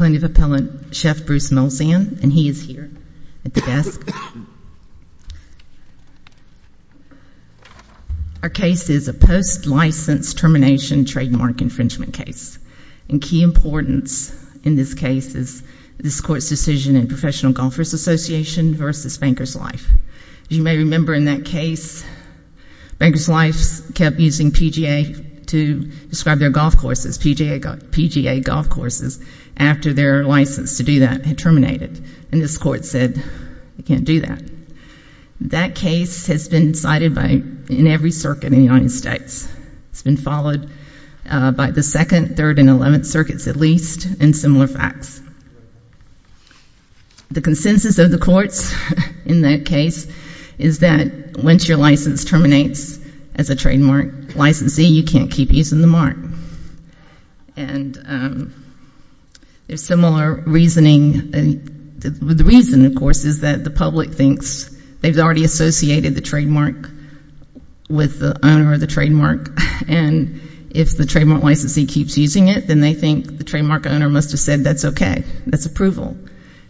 MN Appellant, Chef Bruce Millsian, and he is here at the desk. Our case is a post-license termination trademark infringement case, and key importance in this case is this court's decision in Professional Golfers Association versus Banker's Life. As you may remember in that case, Banker's Life kept using PGA to describe their golf courses after their license to do that had terminated, and this court said, we can't do that. That case has been cited in every circuit in the United States. It's been followed by the 2nd, 3rd, and 11th circuits at least in similar facts. The consensus of the courts in that case is that once your license terminates as a trademark licensee, you can't keep using the mark. And there's similar reasoning, and the reason, of course, is that the public thinks they've already associated the trademark with the owner of the trademark, and if the trademark licensee keeps using it, then they think the trademark owner must have said that's okay. That's approval.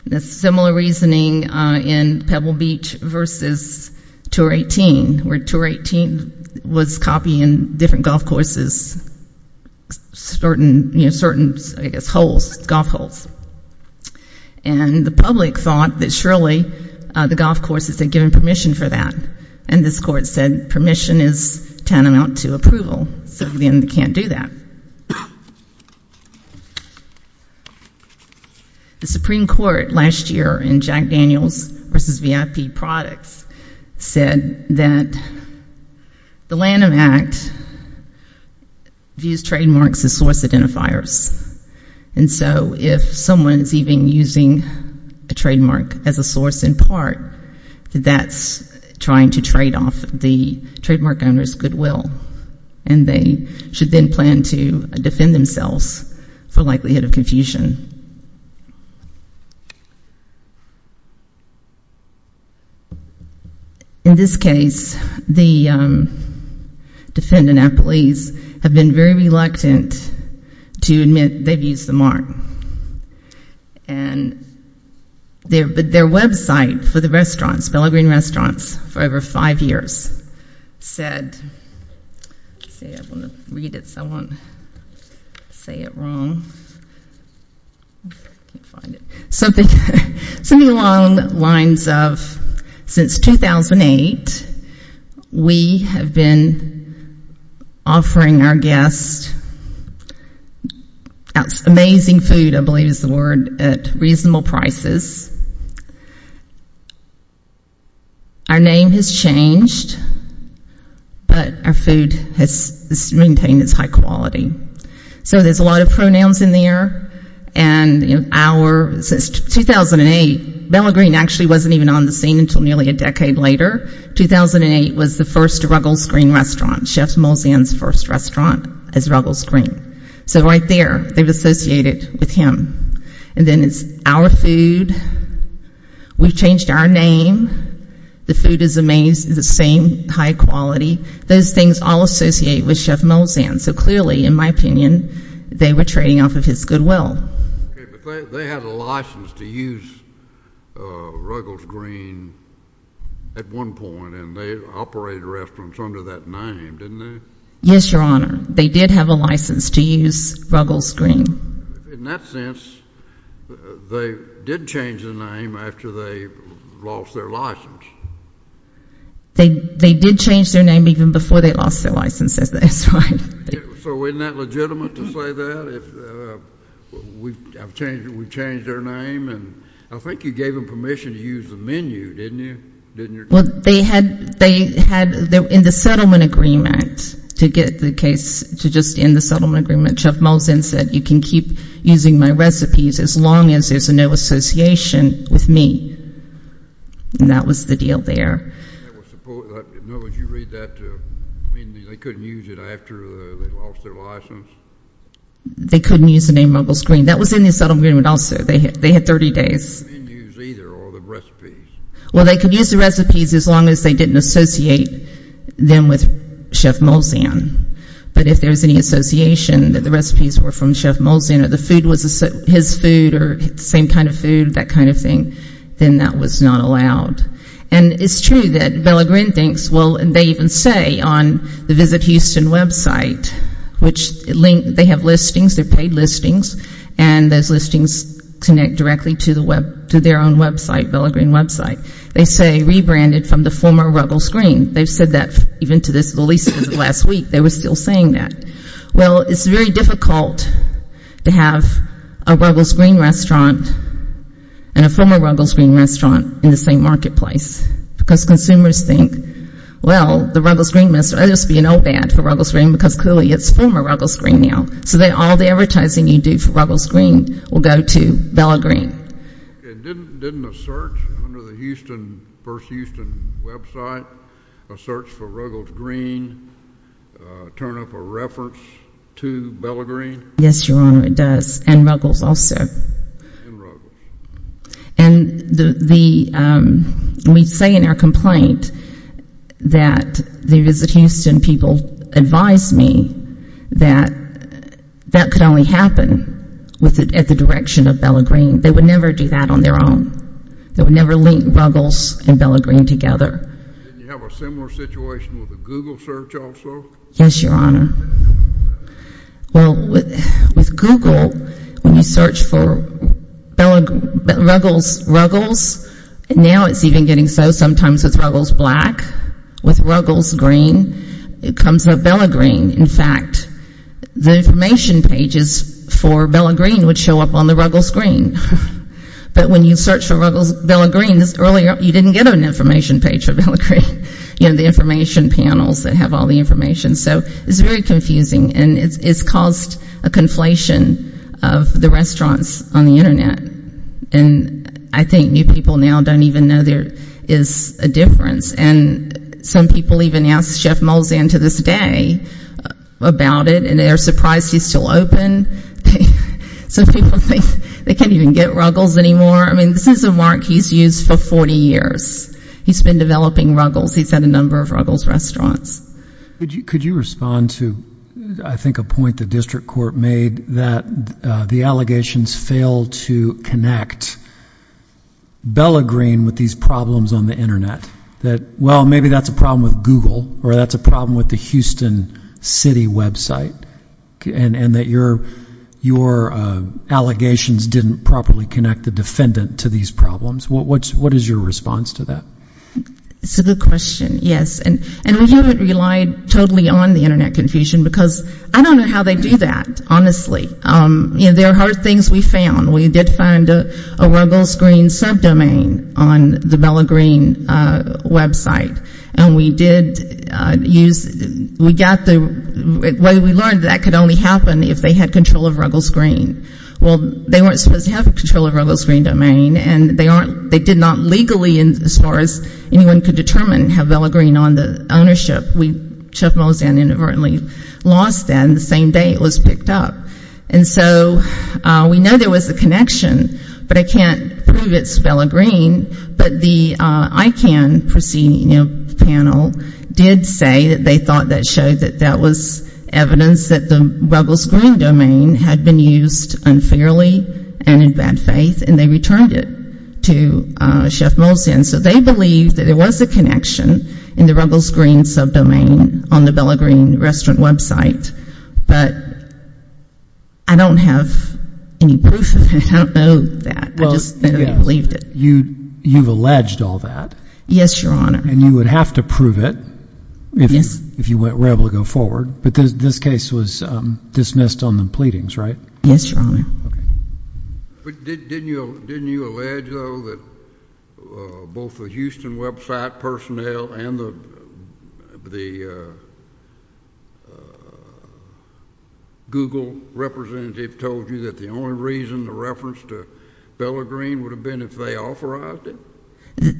And there's similar reasoning in Pebble Beach versus Tour 18, where Tour 18 was copying different golf courses, certain, you know, certain, I guess, holes, golf holes. And the public thought that surely the golf courses had given permission for that, and this court said permission is tantamount to approval, so again, they can't do that. The Supreme Court last year in Jack Daniels versus VIP Products said that the Lanham Act views trademarks as source identifiers, and so if someone is even using a trademark as a source in part, that's trying to trade off the trademark owner's goodwill, and they should then plan to defend themselves for likelihood of confusion. In this case, the defendant, Apple East, have been very reluctant to admit they've used the mark, and their website for the restaurants, Bellagreen Restaurants, for over five years has said, let's see, I want to read it so I won't say it wrong, something along the lines of, since 2008, we have been offering our guests amazing food, I believe is the word, at reasonable prices. Our name has changed, but our food has maintained its high quality. So there's a lot of pronouns in there, and our, since 2008, Bellagreen actually wasn't even on the scene until nearly a decade later. 2008 was the first Ruggles Green restaurant, Chef Mulsanne's first restaurant as Ruggles Green. So right there, they've associated with him. And then it's our food. We've changed our name. The food is amazing, the same high quality. Those things all associate with Chef Mulsanne. So clearly, in my opinion, they were trading off of his goodwill. Okay, but they had a license to use Ruggles Green at one point, and they operated restaurants under that name, didn't they? Yes, Your Honor. They did have a license to use Ruggles Green. In that sense, they did change the name after they lost their license. They did change their name even before they lost their license, that's right. So isn't that legitimate to say that? We've changed their name, and I think you gave them permission to use the menu, didn't you? Well, they had in the settlement agreement to get the case to just end the settlement agreement, Chef Mulsanne said, you can keep using my recipes as long as there's no association with me. And that was the deal there. In other words, you read that to mean they couldn't use it after they lost their license? They couldn't use the name Ruggles Green. That was in the settlement agreement also. They had 30 days. The menus either or the recipes. Well, they could use the recipes as long as they didn't associate them with Chef Mulsanne. But if there was any association that the recipes were from Chef Mulsanne or the food was his food or the same kind of food, that kind of thing, then that was not allowed. And it's true that Bella Green thinks, well, they even say on the Visit Houston website, which they have listings, they're paid listings, and those listings connect directly to their own website, Bella Green website. They say rebranded from the former Ruggles Green. They've said that even to the least of the last week, they were still saying that. Well, it's very difficult to have a Ruggles Green restaurant and a former Ruggles Green restaurant in the same marketplace. Because consumers think, well, the Ruggles Green must be an old ad for Ruggles Green because clearly it's former Ruggles Green now. So all the advertising you do for Ruggles Green will go to Bella Green. Didn't a search under the Houston, First Houston website, a search for Ruggles Green turn up a reference to Bella Green? Yes, Your Honor, it does. And Ruggles also. And we say in our complaint that the Visit Houston people advised me that that could only happen at the direction of Bella Green. They would never do that on their own. They would never link Ruggles and Bella Green together. Didn't you have a similar situation with a Google search also? Yes, Your Honor. Well, with Google, when you search for Ruggles, now it's even getting so sometimes it's Ruggles Black. With Ruggles Green, it comes up Bella Green. In fact, the information pages for Bella Green would show up on the Ruggles Green. But when you search for Bella Green, you didn't get an information page for Bella Green. You know, the information panels that have all the information. So it's very confusing. And it's caused a conflation of the restaurants on the Internet. And I think new people now don't even know there is a difference. And some people even ask Chef Molzan to this day about it, and they're surprised he's still open. Some people think they can't even get Ruggles anymore. I mean, this is a mark he's used for 40 years. He's been developing Ruggles. He's had a number of Ruggles restaurants. Could you respond to, I think, a point the district court made that the allegations failed to connect Bella Green with these problems on the Internet? That, well, maybe that's a problem with Google, or that's a problem with the Houston City website, and that your allegations didn't properly connect the defendant to these problems? What is your response to that? It's a good question, yes. And we haven't relied totally on the Internet confusion, because I don't know how they do that, honestly. You know, there are hard things we found. We did find a Ruggles Green subdomain on the Bella Green website. And we did use, we got the, well, we learned that could only happen if they had control of Ruggles Green. Well, they weren't supposed to have control of Ruggles Green domain, and they did not legally, as far as anyone could determine, have Bella Green on the ownership. We inadvertently lost that on the same day it was picked up. And so we know there was a connection, but I can't prove it's Bella Green. But the ICANN panel did say that they thought that showed that that was evidence that the Ruggles Green domain had been used unfairly and in bad faith, and they returned it to Chef Molson. So they believed that there was a connection in the Ruggles Green subdomain on the Bella Green restaurant website. But I don't have any proof of that. I don't know that. I just don't believe it. You've alleged all that. Yes, Your Honor. And you would have to prove it if you were able to go forward. But this case was dismissed on the pleadings, right? Yes, Your Honor. Okay. But didn't you allege, though, that both the Houston website personnel and the Google representative told you that the only reason the reference to Bella Green would have been if they authorized it?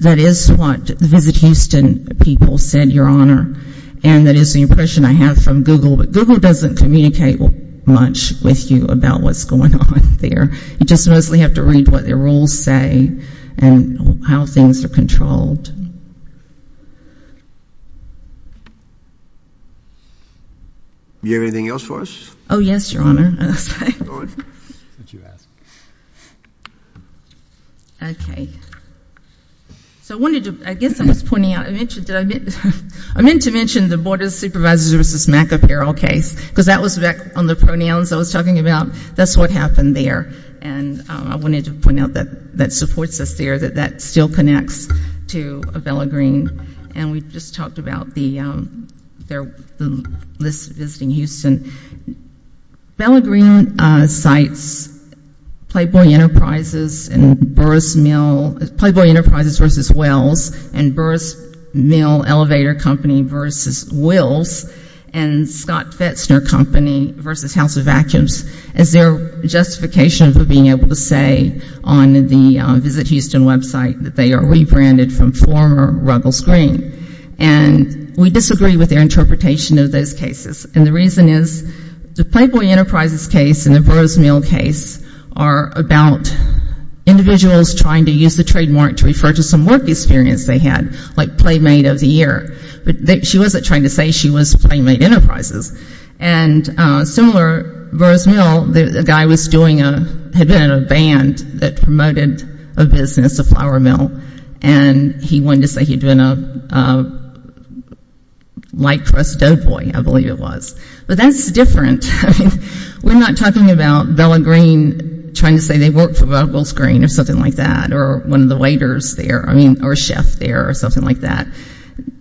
That is what the Visit Houston people said, Your Honor. And that is the impression I have from Google. But Google doesn't communicate much with you about what's going on there. You just mostly have to read what their rules say and how things are controlled. Do you have anything else for us? Oh, yes, Your Honor. Okay. So I wanted to, I guess I was pointing out, I meant to mention the Board of Supervisors versus MAC apparel case, because that was back on the pronouns I was talking about. That's what happened there. And I wanted to point out that that supports us there, that that still connects to Bella Green. And we just talked about the list of Visiting Houston. Bella Green cites Playboy Enterprises and Burris Mill, Playboy Enterprises versus Wells, and Burris Mill Elevator Company versus Wills and Scott Fetzner Company versus House of Vacuums as their justification for being able to say on the Visit Houston website that they are rebranded from former Ruggles Green. And we disagree with their interpretation of those cases. And the reason is the Playboy Enterprises case and the Burris Mill case are about individuals trying to use the trademark to refer to some work experience they had, like Playmate of the Year. But she wasn't trying to say she was Playmate Enterprises. And similar, Burris Mill, the guy was doing a, had been in a band that promoted a business, a flour mill, and he wanted to say he'd been a light crust dough boy, I believe it was. But that's different. We're not talking about Bella Green trying to say they work for Ruggles Green or something like that, or one of the waiters there, I mean, or a chef there or something like that.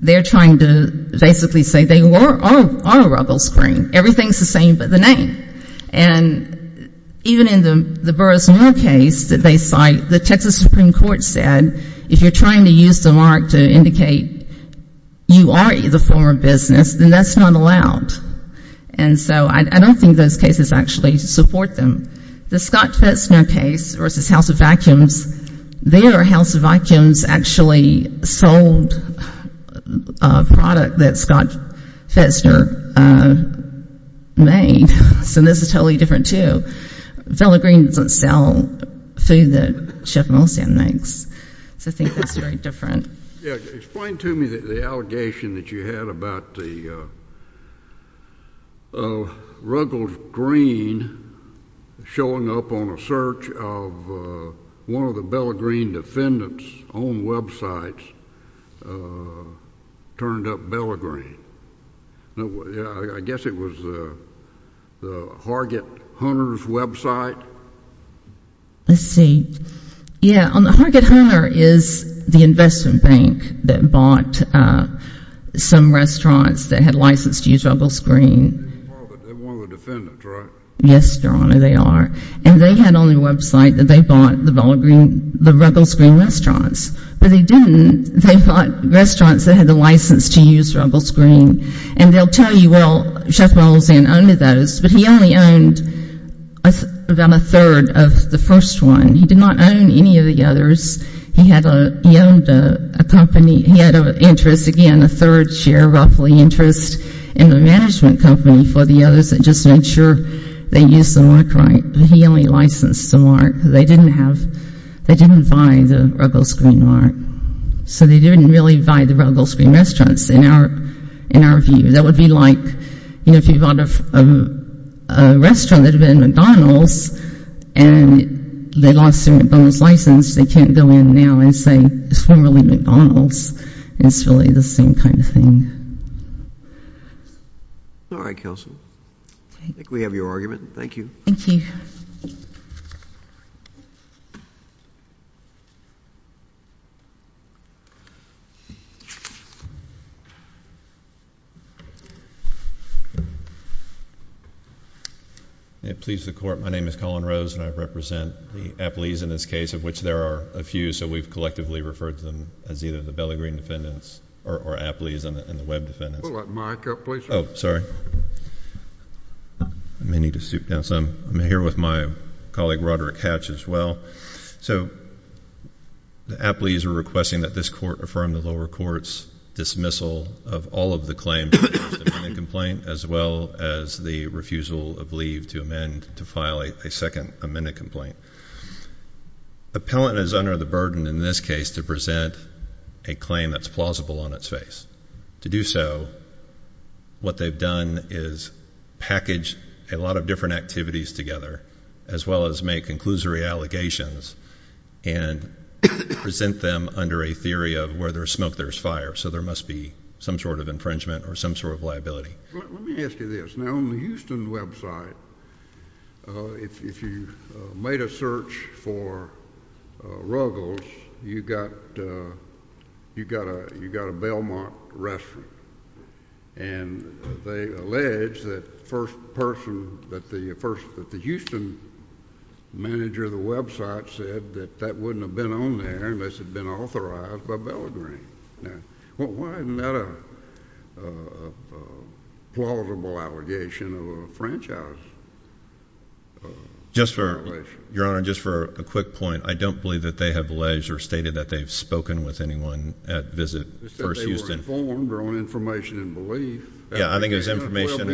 They're trying to basically say they are Ruggles Green. Everything's the same but the name. And even in the Burris Mill case that they cite, the Texas Supreme Court said if you're trying to use the mark to indicate you are the former business, then that's not allowed. And so I don't think those cases actually support them. The Scott Fetzner case versus House of Vacuums, their House of Vacuums actually sold a product that Scott Fetzner made. So this is totally different too. Bella Green doesn't sell food that Chef Moulson makes. So I think that's very different. Yeah. Explain to me the allegation that you had about the Ruggles Green showing up on a search of one of the Bella Green defendants' own websites turned up Bella Green. I guess it was the Hargett Hunter's website. Let's see. Yeah, Hargett Hunter is the investment bank that bought some restaurants that had license to use Ruggles Green. They weren't the defendants, right? Yes, Your Honor, they are. And they had on their website that they bought the Bella Green, the Ruggles Green restaurants. But they didn't. They bought restaurants that had the license to use Ruggles Green. And they'll tell you, well, Chef Moulson owned those, but he only owned about a third of the first one. He did not own any of the others. He owned a company. He had an interest, again, a third share roughly interest in the management company for the others that just made sure they used the mark right. But he only licensed the mark. They didn't buy the Ruggles Green mark. So they didn't really buy the Ruggles Green restaurants in our view. That would be like if you bought a restaurant that had been in McDonald's and they lost their McDonald's license, they can't go in now and say it's formerly McDonald's. It's really the same kind of thing. All right, Counsel. I think we have your argument. Thank you. Thank you. May it please the Court. My name is Colin Rose, and I represent the Apleys in this case, of which there are a few. So we've collectively referred to them as either the Bellagreen defendants or Apleys and the Webb defendants. Pull that mic up, please. Oh, sorry. I may need to stoop down some. I'm here with my colleague, Roderick Hatch, as well. So the Apleys are requesting that this Court affirm the lower court's dismissal of all of the claims against the amended complaint as well as the refusal of leave to amend to file a second amended complaint. Appellant is under the burden in this case to present a claim that's plausible on its face. To do so, what they've done is package a lot of different activities together as well as make conclusory allegations and present them under a theory of where there's smoke, there's fire. So there must be some sort of infringement or some sort of liability. Let me ask you this. Now, on the Houston website, if you made a search for Ruggles, you got a Belmont restaurant, and they allege that the Houston manager of the website said that that wouldn't have been on there unless it had been authorized by Bellagreen. Well, why isn't that a plausible allegation of a franchise violation? Your Honor, just for a quick point, I don't believe that they have alleged or stated that they've spoken with anyone at Visit First Houston. They said they were informed or on information and belief. Yeah, I think it was information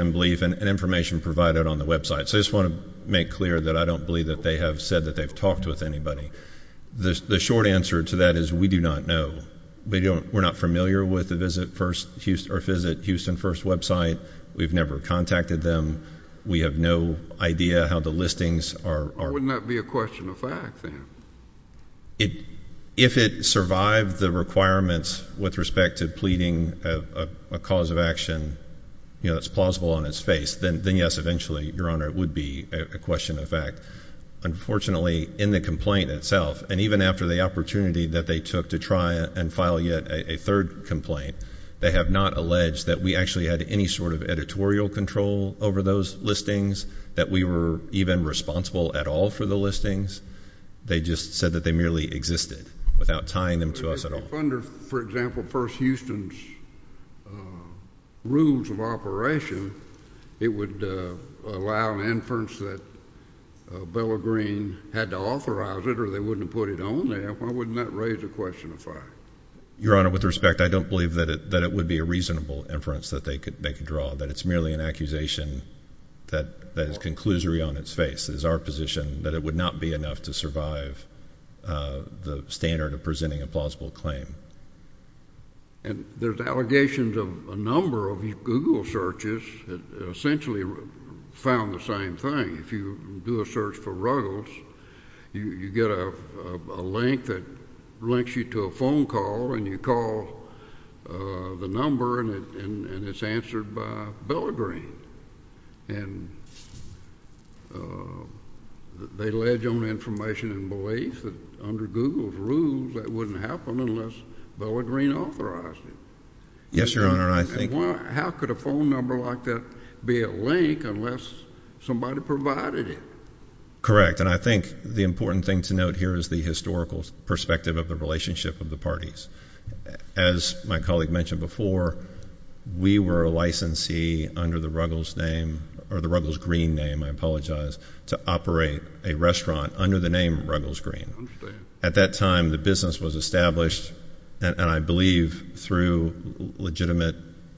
and belief and information provided on the website. So I just want to make clear that I don't believe that they have said that they've talked with anybody. The short answer to that is we do not know. We're not familiar with the Visit Houston First website. We've never contacted them. We have no idea how the listings are. Wouldn't that be a question of fact then? If it survived the requirements with respect to pleading a cause of action that's plausible on its face, then yes, eventually, Your Honor, it would be a question of fact. Unfortunately, in the complaint itself, and even after the opportunity that they took to try and file yet a third complaint, they have not alleged that we actually had any sort of editorial control over those listings, that we were even responsible at all for the listings. They just said that they merely existed without tying them to us at all. If under, for example, First Houston's rules of operation, it would allow an inference that Bella Green had to authorize it or they wouldn't have put it on there, why wouldn't that raise the question of fact? Your Honor, with respect, I don't believe that it would be a reasonable inference that they could draw, that it's merely an accusation that is conclusory on its face. It is our position that it would not be enough to survive the standard of presenting a plausible claim. And there's allegations of a number of Google searches that essentially found the same thing. If you do a search for Ruggles, you get a link that links you to a phone call, and you call the number, and it's answered by Bella Green. And they allege on information and belief that under Google's rules, that wouldn't happen unless Bella Green authorized it. Yes, Your Honor. How could a phone number like that be a link unless somebody provided it? Correct. And I think the important thing to note here is the historical perspective of the relationship of the parties. As my colleague mentioned before, we were a licensee under the Ruggles name or the Ruggles Green name, I apologize, to operate a restaurant under the name Ruggles Green. I understand. At that time, the business was established, and I believe through legitimate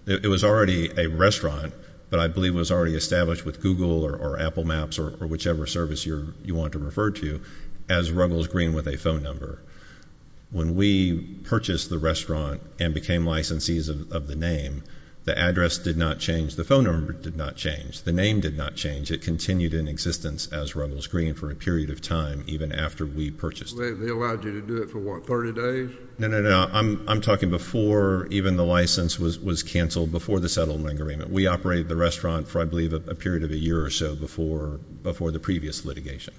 it was already a restaurant, but I believe it was already established with Google or Apple Maps or whichever service you want to refer to as Ruggles Green with a phone number. When we purchased the restaurant and became licensees of the name, the address did not change, the phone number did not change, the name did not change. It continued in existence as Ruggles Green for a period of time even after we purchased it. They allowed you to do it for, what, 30 days? No, no, no. I'm talking before even the license was canceled, before the settlement agreement. We operated the restaurant for, I believe, a period of a year or so before the previous litigation.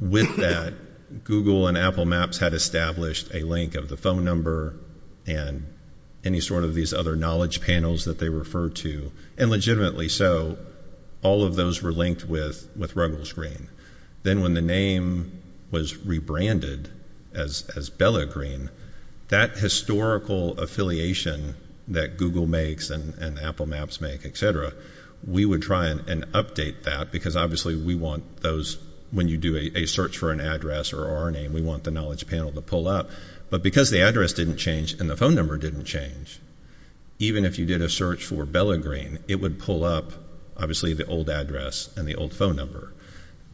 With that, Google and Apple Maps had established a link of the phone number and any sort of these other knowledge panels that they refer to, and legitimately so, all of those were linked with Ruggles Green. Then when the name was rebranded as Bella Green, that historical affiliation that Google makes and Apple Maps make, et cetera, we would try and update that because obviously we want those, when you do a search for an address or our name, we want the knowledge panel to pull up. But because the address didn't change and the phone number didn't change, even if you did a search for Bella Green, it would pull up, obviously, the old address and the old phone number.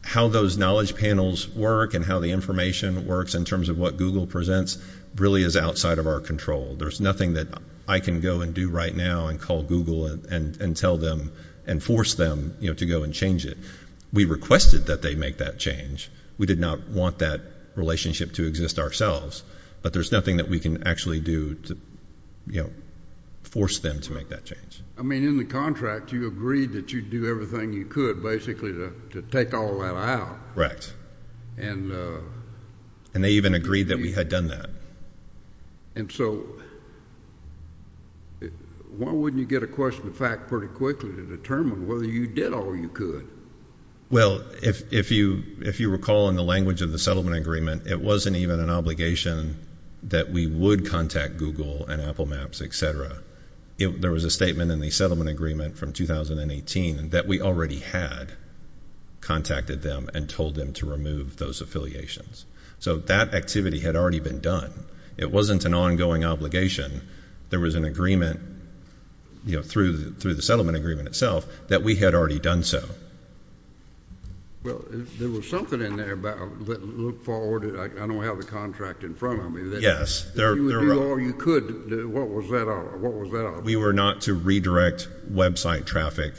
How those knowledge panels work and how the information works in terms of what Google presents really is outside of our control. There's nothing that I can go and do right now and call Google and tell them and force them to go and change it. We requested that they make that change. We did not want that relationship to exist ourselves, but there's nothing that we can actually do to force them to make that change. I mean, in the contract, you agreed that you'd do everything you could, basically, to take all that out. And they even agreed that we had done that. And so why wouldn't you get a question of fact pretty quickly to determine whether you did all you could? Well, if you recall in the language of the settlement agreement, it wasn't even an obligation that we would contact Google and Apple Maps, et cetera. There was a statement in the settlement agreement from 2018 that we already had contacted them and told them to remove those affiliations. So that activity had already been done. It wasn't an ongoing obligation. There was an agreement through the settlement agreement itself that we had already done so. Well, there was something in there about look forward. I don't have the contract in front of me. Yes. You would do all you could. What was that all about? We were not to redirect website traffic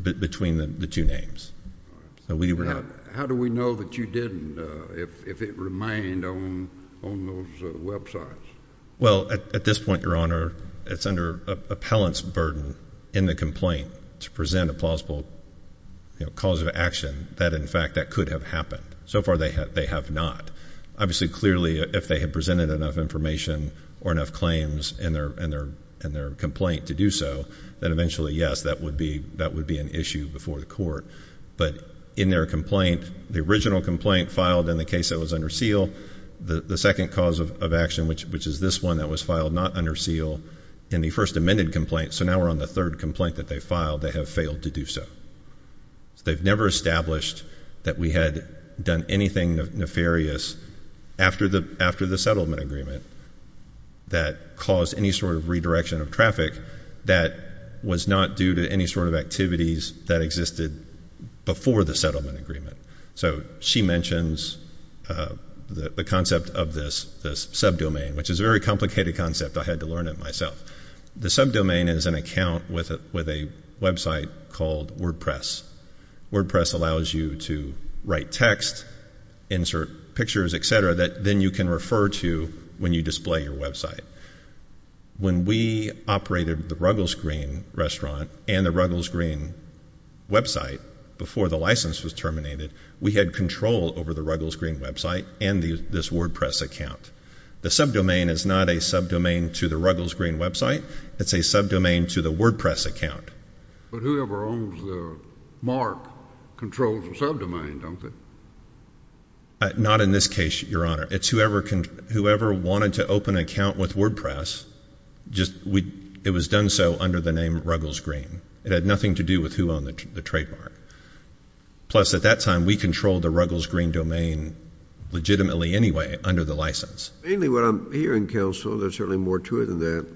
between the two names. How do we know that you didn't if it remained on those websites? Well, at this point, Your Honor, it's under appellant's burden in the complaint to present a plausible cause of action that, in fact, that could have happened. So far, they have not. Obviously, clearly, if they had presented enough information or enough claims in their complaint to do so, then eventually, yes, that would be an issue before the court. But in their complaint, the original complaint filed in the case that was under seal, the second cause of action, which is this one that was filed not under seal, in the first amended complaint, so now we're on the third complaint that they filed, they have failed to do so. They've never established that we had done anything nefarious after the settlement agreement that caused any sort of redirection of traffic that was not due to any sort of activities that existed before the settlement agreement. So she mentions the concept of this subdomain, which is a very complicated concept. I had to learn it myself. The subdomain is an account with a website called WordPress. WordPress allows you to write text, insert pictures, et cetera, that then you can refer to when you display your website. When we operated the Ruggles Green restaurant and the Ruggles Green website before the license was terminated, we had control over the Ruggles Green website and this WordPress account. The subdomain is not a subdomain to the Ruggles Green website. It's a subdomain to the WordPress account. But whoever owns the mark controls the subdomain, don't they? Not in this case, Your Honor. It's whoever wanted to open an account with WordPress, it was done so under the name Ruggles Green. It had nothing to do with who owned the trademark. Plus, at that time, we controlled the Ruggles Green domain legitimately anyway under the license. Mainly what I'm hearing, Counsel, that's certainly more true than that,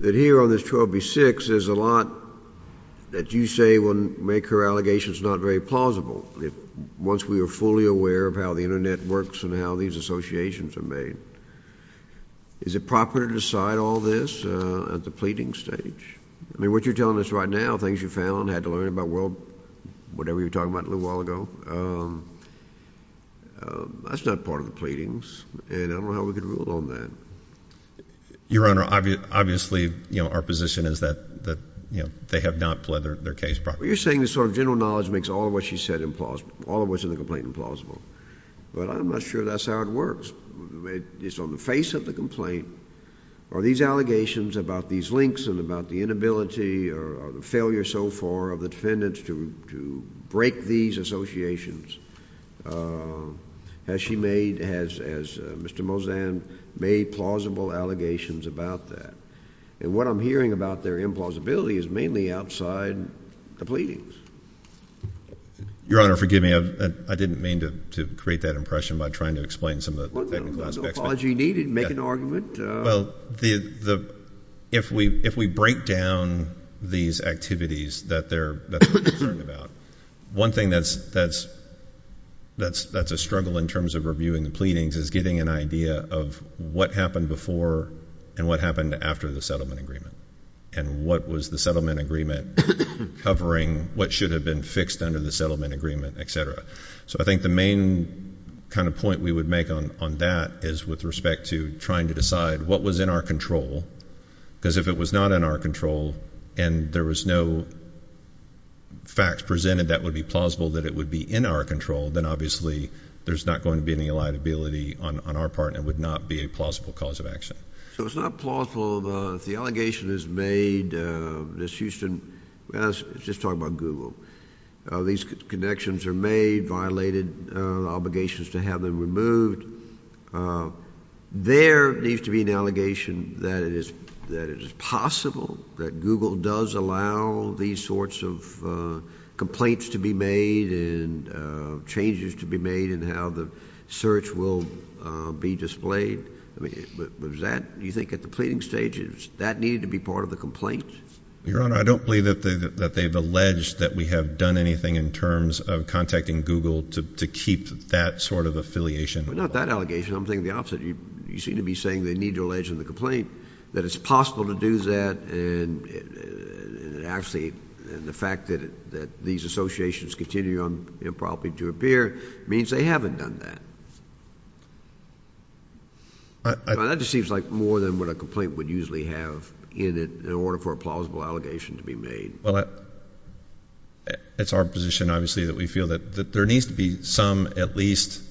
that here on this 12B6, there's a lot that you say will make her allegations not very plausible. Once we are fully aware of how the Internet works and how these associations are made, is it proper to decide all this at the pleading stage? I mean, what you're telling us right now, things you found, had to learn about, well, whatever you were talking about a little while ago, that's not part of the pleadings, and I don't know how we could rule on that. Your Honor, obviously our position is that they have not pleaded their case properly. Well, you're saying this sort of general knowledge makes all of what she said implausible, all of what's in the complaint implausible. Well, I'm not sure that's how it works. It's on the face of the complaint are these allegations about these links and about the inability or the failure so far of the defendants to break these associations. Has she made, has Mr. Mozan made plausible allegations about that? And what I'm hearing about their implausibility is mainly outside the pleadings. Your Honor, forgive me. I didn't mean to create that impression by trying to explain some of the technical aspects. Well, no apology needed. Make an argument. Well, if we break down these activities that they're concerned about, one thing that's a struggle in terms of reviewing the pleadings is getting an idea of what happened before and what happened after the settlement agreement and what was the settlement agreement covering, what should have been fixed under the settlement agreement, et cetera. So I think the main kind of point we would make on that is with respect to trying to decide what was in our control, because if it was not in our control and there was no facts presented that would be plausible that it would be in our control, then obviously there's not going to be any liability on our part and would not be a plausible cause of action. So it's not plausible. Well, if the allegation is made, Ms. Houston, let's just talk about Google. These connections are made, violated, obligations to have them removed. There needs to be an allegation that it is possible that Google does allow these sorts of complaints to be made and changes to be made in how the search will be displayed. Do you think at the pleading stage that needed to be part of the complaint? Your Honor, I don't believe that they've alleged that we have done anything in terms of contacting Google to keep that sort of affiliation. Well, not that allegation. I'm thinking the opposite. You seem to be saying they need to allege in the complaint that it's possible to do that and actually the fact that these associations continue on improperly to appear means they haven't done that. That just seems like more than what a complaint would usually have in it in order for a plausible allegation to be made. Well, it's our position obviously that we feel that there needs to be some at least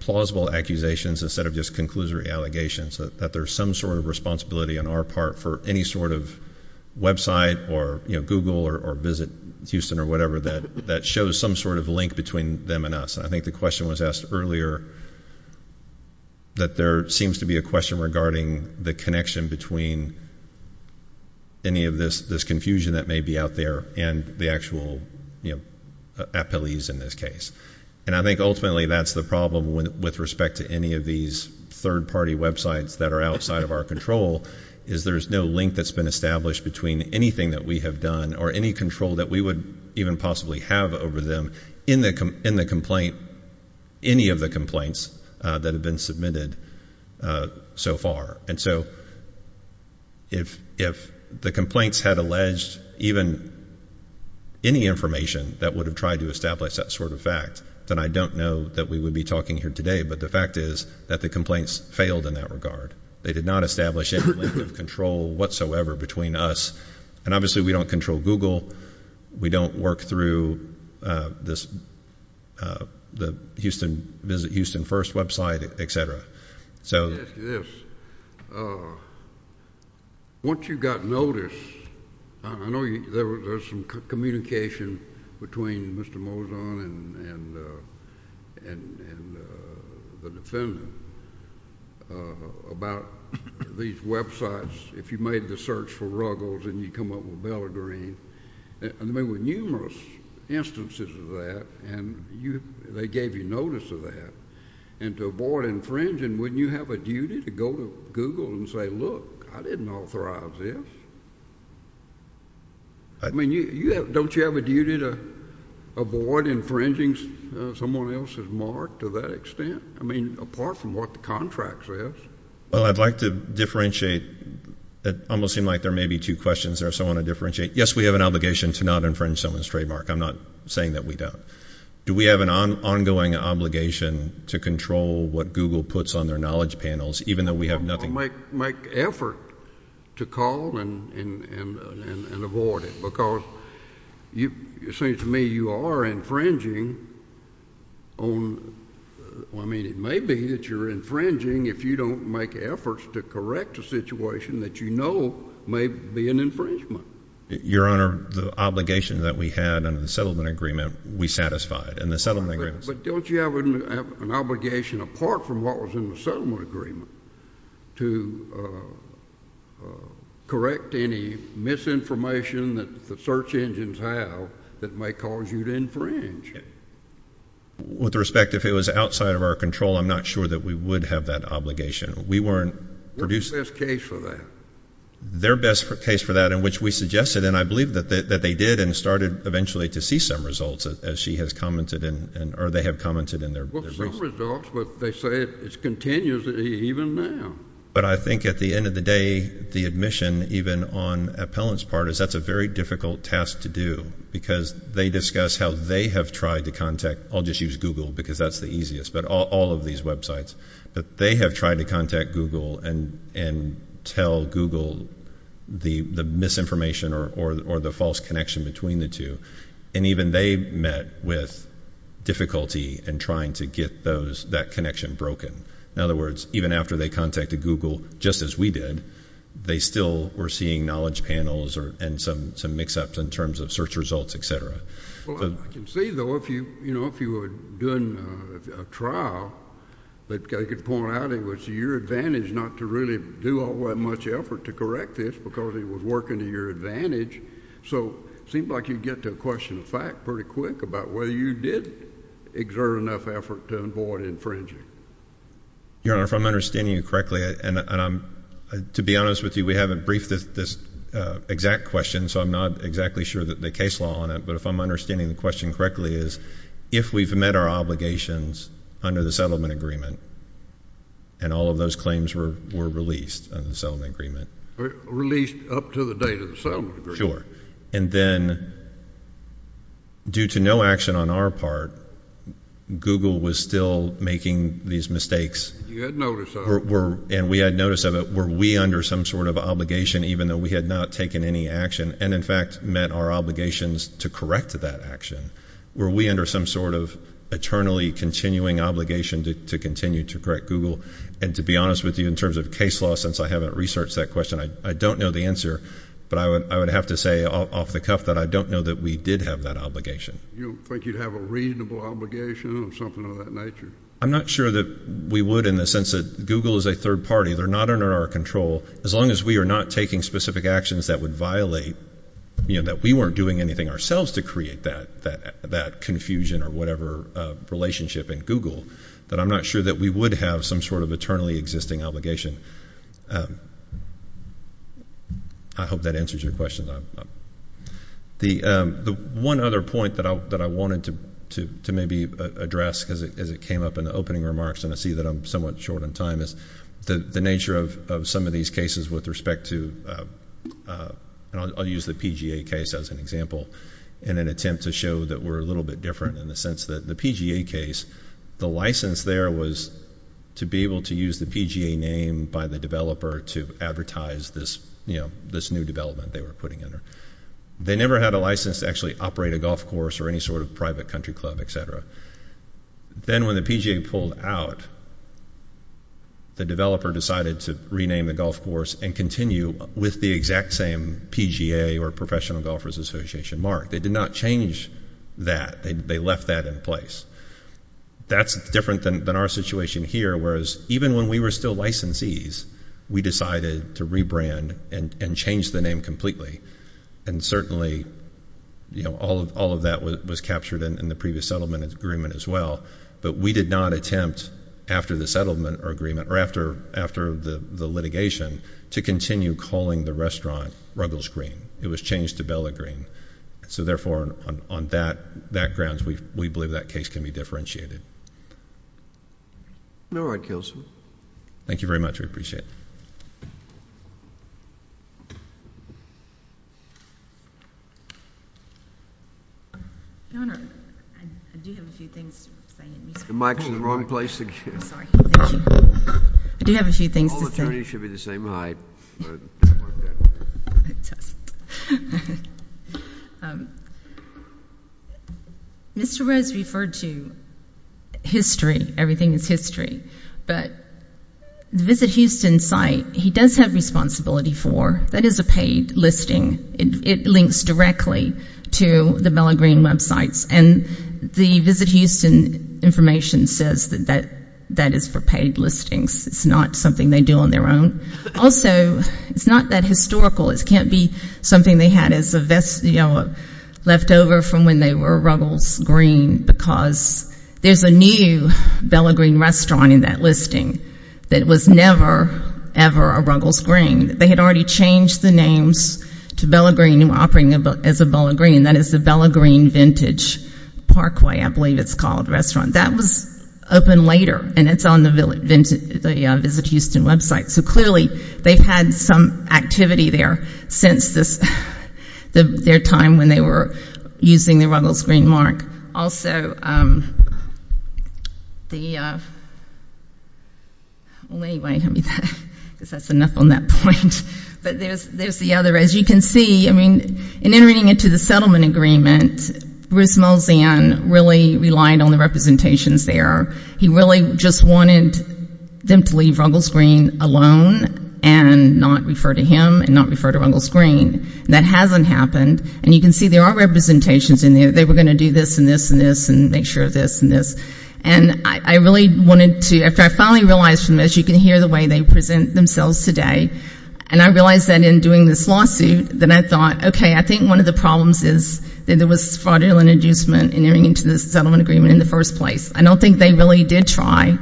plausible accusations instead of just conclusory allegations, that there's some sort of responsibility on our part for any sort of website or Google or Visit Houston or whatever that shows some sort of link between them and us. I think the question was asked earlier that there seems to be a question regarding the connection between any of this confusion that may be out there and the actual appellees in this case. I think ultimately that's the problem with respect to any of these third-party websites that are outside of our control is there's no link that's been established between anything that we have done or any control that we would even possibly have over them in the complaint, any of the complaints that have been submitted so far. And so if the complaints had alleged even any information that would have tried to establish that sort of fact, then I don't know that we would be talking here today, but the fact is that the complaints failed in that regard. They did not establish any link of control whatsoever between us. And obviously we don't control Google. We don't work through the Houston First website, et cetera. Let me ask you this. Once you got notice, I know there was some communication between Mr. Moson and the defendant about these websites. If you made the search for Ruggles and you come up with Bellagreen, there were numerous instances of that, and they gave you notice of that. And to avoid infringing, wouldn't you have a duty to go to Google and say, look, I didn't authorize this? I mean, don't you have a duty to avoid infringing someone else's mark to that extent? I mean, apart from what the contract says. Well, I'd like to differentiate. It almost seemed like there may be two questions there, so I want to differentiate. Yes, we have an obligation to not infringe someone's trademark. I'm not saying that we don't. Do we have an ongoing obligation to control what Google puts on their knowledge panels, even though we have nothing? Make effort to call and avoid it, because it seems to me you are infringing on, I mean, it may be that you're infringing if you don't make efforts to correct a situation that you know may be an infringement. Your Honor, the obligation that we had under the settlement agreement, we satisfied. But don't you have an obligation, apart from what was in the settlement agreement, to correct any misinformation that the search engines have that may cause you to infringe? With respect, if it was outside of our control, I'm not sure that we would have that obligation. What's the best case for that? Their best case for that, in which we suggested, and I believe that they did, and started eventually to see some results, as she has commented, or they have commented in their briefs. Well, some results, but they say it's continuous even now. But I think at the end of the day, the admission, even on Appellant's part, is that's a very difficult task to do, because they discuss how they have tried to contact, I'll just use Google, because that's the easiest, but all of these websites, but they have tried to contact Google and tell Google the misinformation or the false connection between the two. And even they met with difficulty in trying to get that connection broken. In other words, even after they contacted Google, just as we did, they still were seeing knowledge panels and some mix-ups in terms of search results, et cetera. Well, I can see, though, if you were doing a trial, they could point out it was to your advantage not to really do all that much effort to correct this, because it was working to your advantage. So it seemed like you'd get to a question of fact pretty quick about whether you did exert enough effort to avoid infringing. Your Honor, if I'm understanding you correctly, and to be honest with you, we haven't briefed this exact question, so I'm not exactly sure that the case law on it, but if I'm understanding the question correctly, is if we've met our obligations under the settlement agreement and all of those claims were released under the settlement agreement. Released up to the date of the settlement agreement. Sure. And then due to no action on our part, Google was still making these mistakes. You had notice of it. And we had notice of it. Were we under some sort of obligation, even though we had not taken any action and, in fact, met our obligations to correct that action? Were we under some sort of eternally continuing obligation to continue to correct Google? And to be honest with you, in terms of case law, since I haven't researched that question, I don't know the answer, but I would have to say off the cuff that I don't know that we did have that obligation. You think you'd have a reasonable obligation or something of that nature? I'm not sure that we would in the sense that Google is a third party. They're not under our control. As long as we are not taking specific actions that would violate, you know, that we weren't doing anything ourselves to create that confusion or whatever relationship in Google, that I'm not sure that we would have some sort of eternally existing obligation. I hope that answers your question. The one other point that I wanted to maybe address as it came up in the opening remarks, and I see that I'm somewhat short on time, is the nature of some of these cases with respect to, and I'll use the PGA case as an example in an attempt to show that we're a little bit different in the sense that the PGA case, the license there was to be able to use the PGA name by the developer to advertise this new development they were putting in. They never had a license to actually operate a golf course or any sort of private country club, etc. Then when the PGA pulled out, the developer decided to rename the golf course and continue with the exact same PGA or Professional Golfers Association mark. They did not change that. They left that in place. That's different than our situation here, whereas even when we were still licensees, we decided to rebrand and change the name completely. Certainly, all of that was captured in the previous settlement agreement as well, but we did not attempt after the litigation to continue calling the restaurant Ruggles Green. It was changed to Bella Green. Therefore, on that grounds, we believe that case can be differentiated. All right, Kelson. Thank you very much. We appreciate it. Your Honor, I do have a few things to say. The mic is in the wrong place again. I'm sorry. I do have a few things to say. All attorneys should be the same height. It doesn't work that way. Mr. Rose referred to history. Everything is history. But the Visit Houston site, he does have responsibility for. That is a paid listing. It links directly to the Bella Green websites. And the Visit Houston information says that that is for paid listings. It's not something they do on their own. Also, it's not that historical. It can't be something they had as a leftover from when they were Ruggles Green, because there's a new Bella Green restaurant in that listing that was never, ever a Ruggles Green. They had already changed the names to Bella Green and were operating as a Bella Green. That is the Bella Green Vintage Parkway, I believe it's called, restaurant. That was opened later, and it's on the Visit Houston website. So clearly they've had some activity there since their time when they were using the Ruggles Green mark. Also, the other, as you can see, in entering into the settlement agreement, Bruce Molzan really relied on the representations there. He really just wanted them to leave Ruggles Green alone and not refer to him and not refer to Ruggles Green. That hasn't happened. And you can see there are representations in there. They were going to do this and this and this and make sure of this and this. And I really wanted to, after I finally realized from this, you can hear the way they present themselves today, and I realized that in doing this lawsuit that I thought, okay, I think one of the problems is that there was fraudulent inducement entering into the settlement agreement in the first place. I don't think they really did try.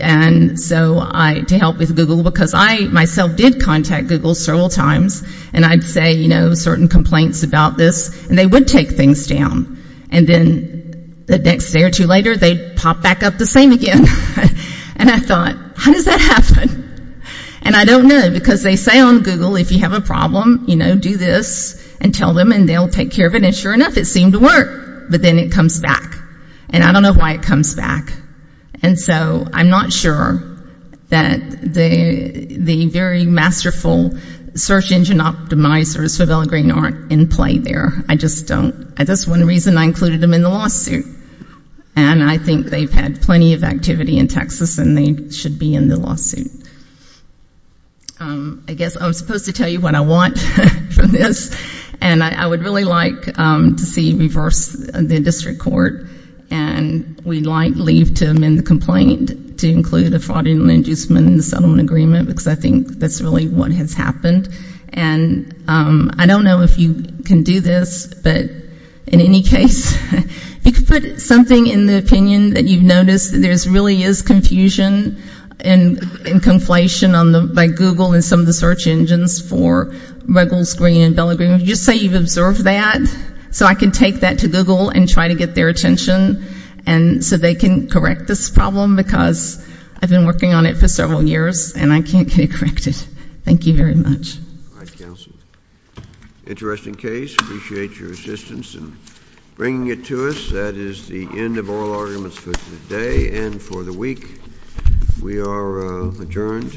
And so to help with Google, because I myself did contact Google several times, and I'd say, you know, certain complaints about this, and they would take things down. And then the next day or two later, they'd pop back up the same again. And I thought, how does that happen? And I don't know, because they say on Google, if you have a problem, you know, do this and tell them and they'll take care of it. And sure enough, it seemed to work. But then it comes back. And I don't know why it comes back. And so I'm not sure that the very masterful search engine optimizers are in play there. I just don't. That's one reason I included them in the lawsuit. And I think they've had plenty of activity in Texas and they should be in the lawsuit. I guess I'm supposed to tell you what I want from this. And I would really like to see reversed in the district court. And we might leave to amend the complaint to include a fraudulent inducement in the settlement agreement, because I think that's really what has happened. And I don't know if you can do this, but in any case, if you could put something in the opinion that you've noticed that there really is confusion and conflation by Google and some of the search engines for Ruggles Green and Bella Green, just say you've observed that so I can take that to Google and try to get their attention so they can correct this problem, because I've been working on it for several years and I can't get it corrected. Thank you very much. All right, counsel. Interesting case. Appreciate your assistance in bringing it to us. That is the end of oral arguments for today and for the week. We are adjourned.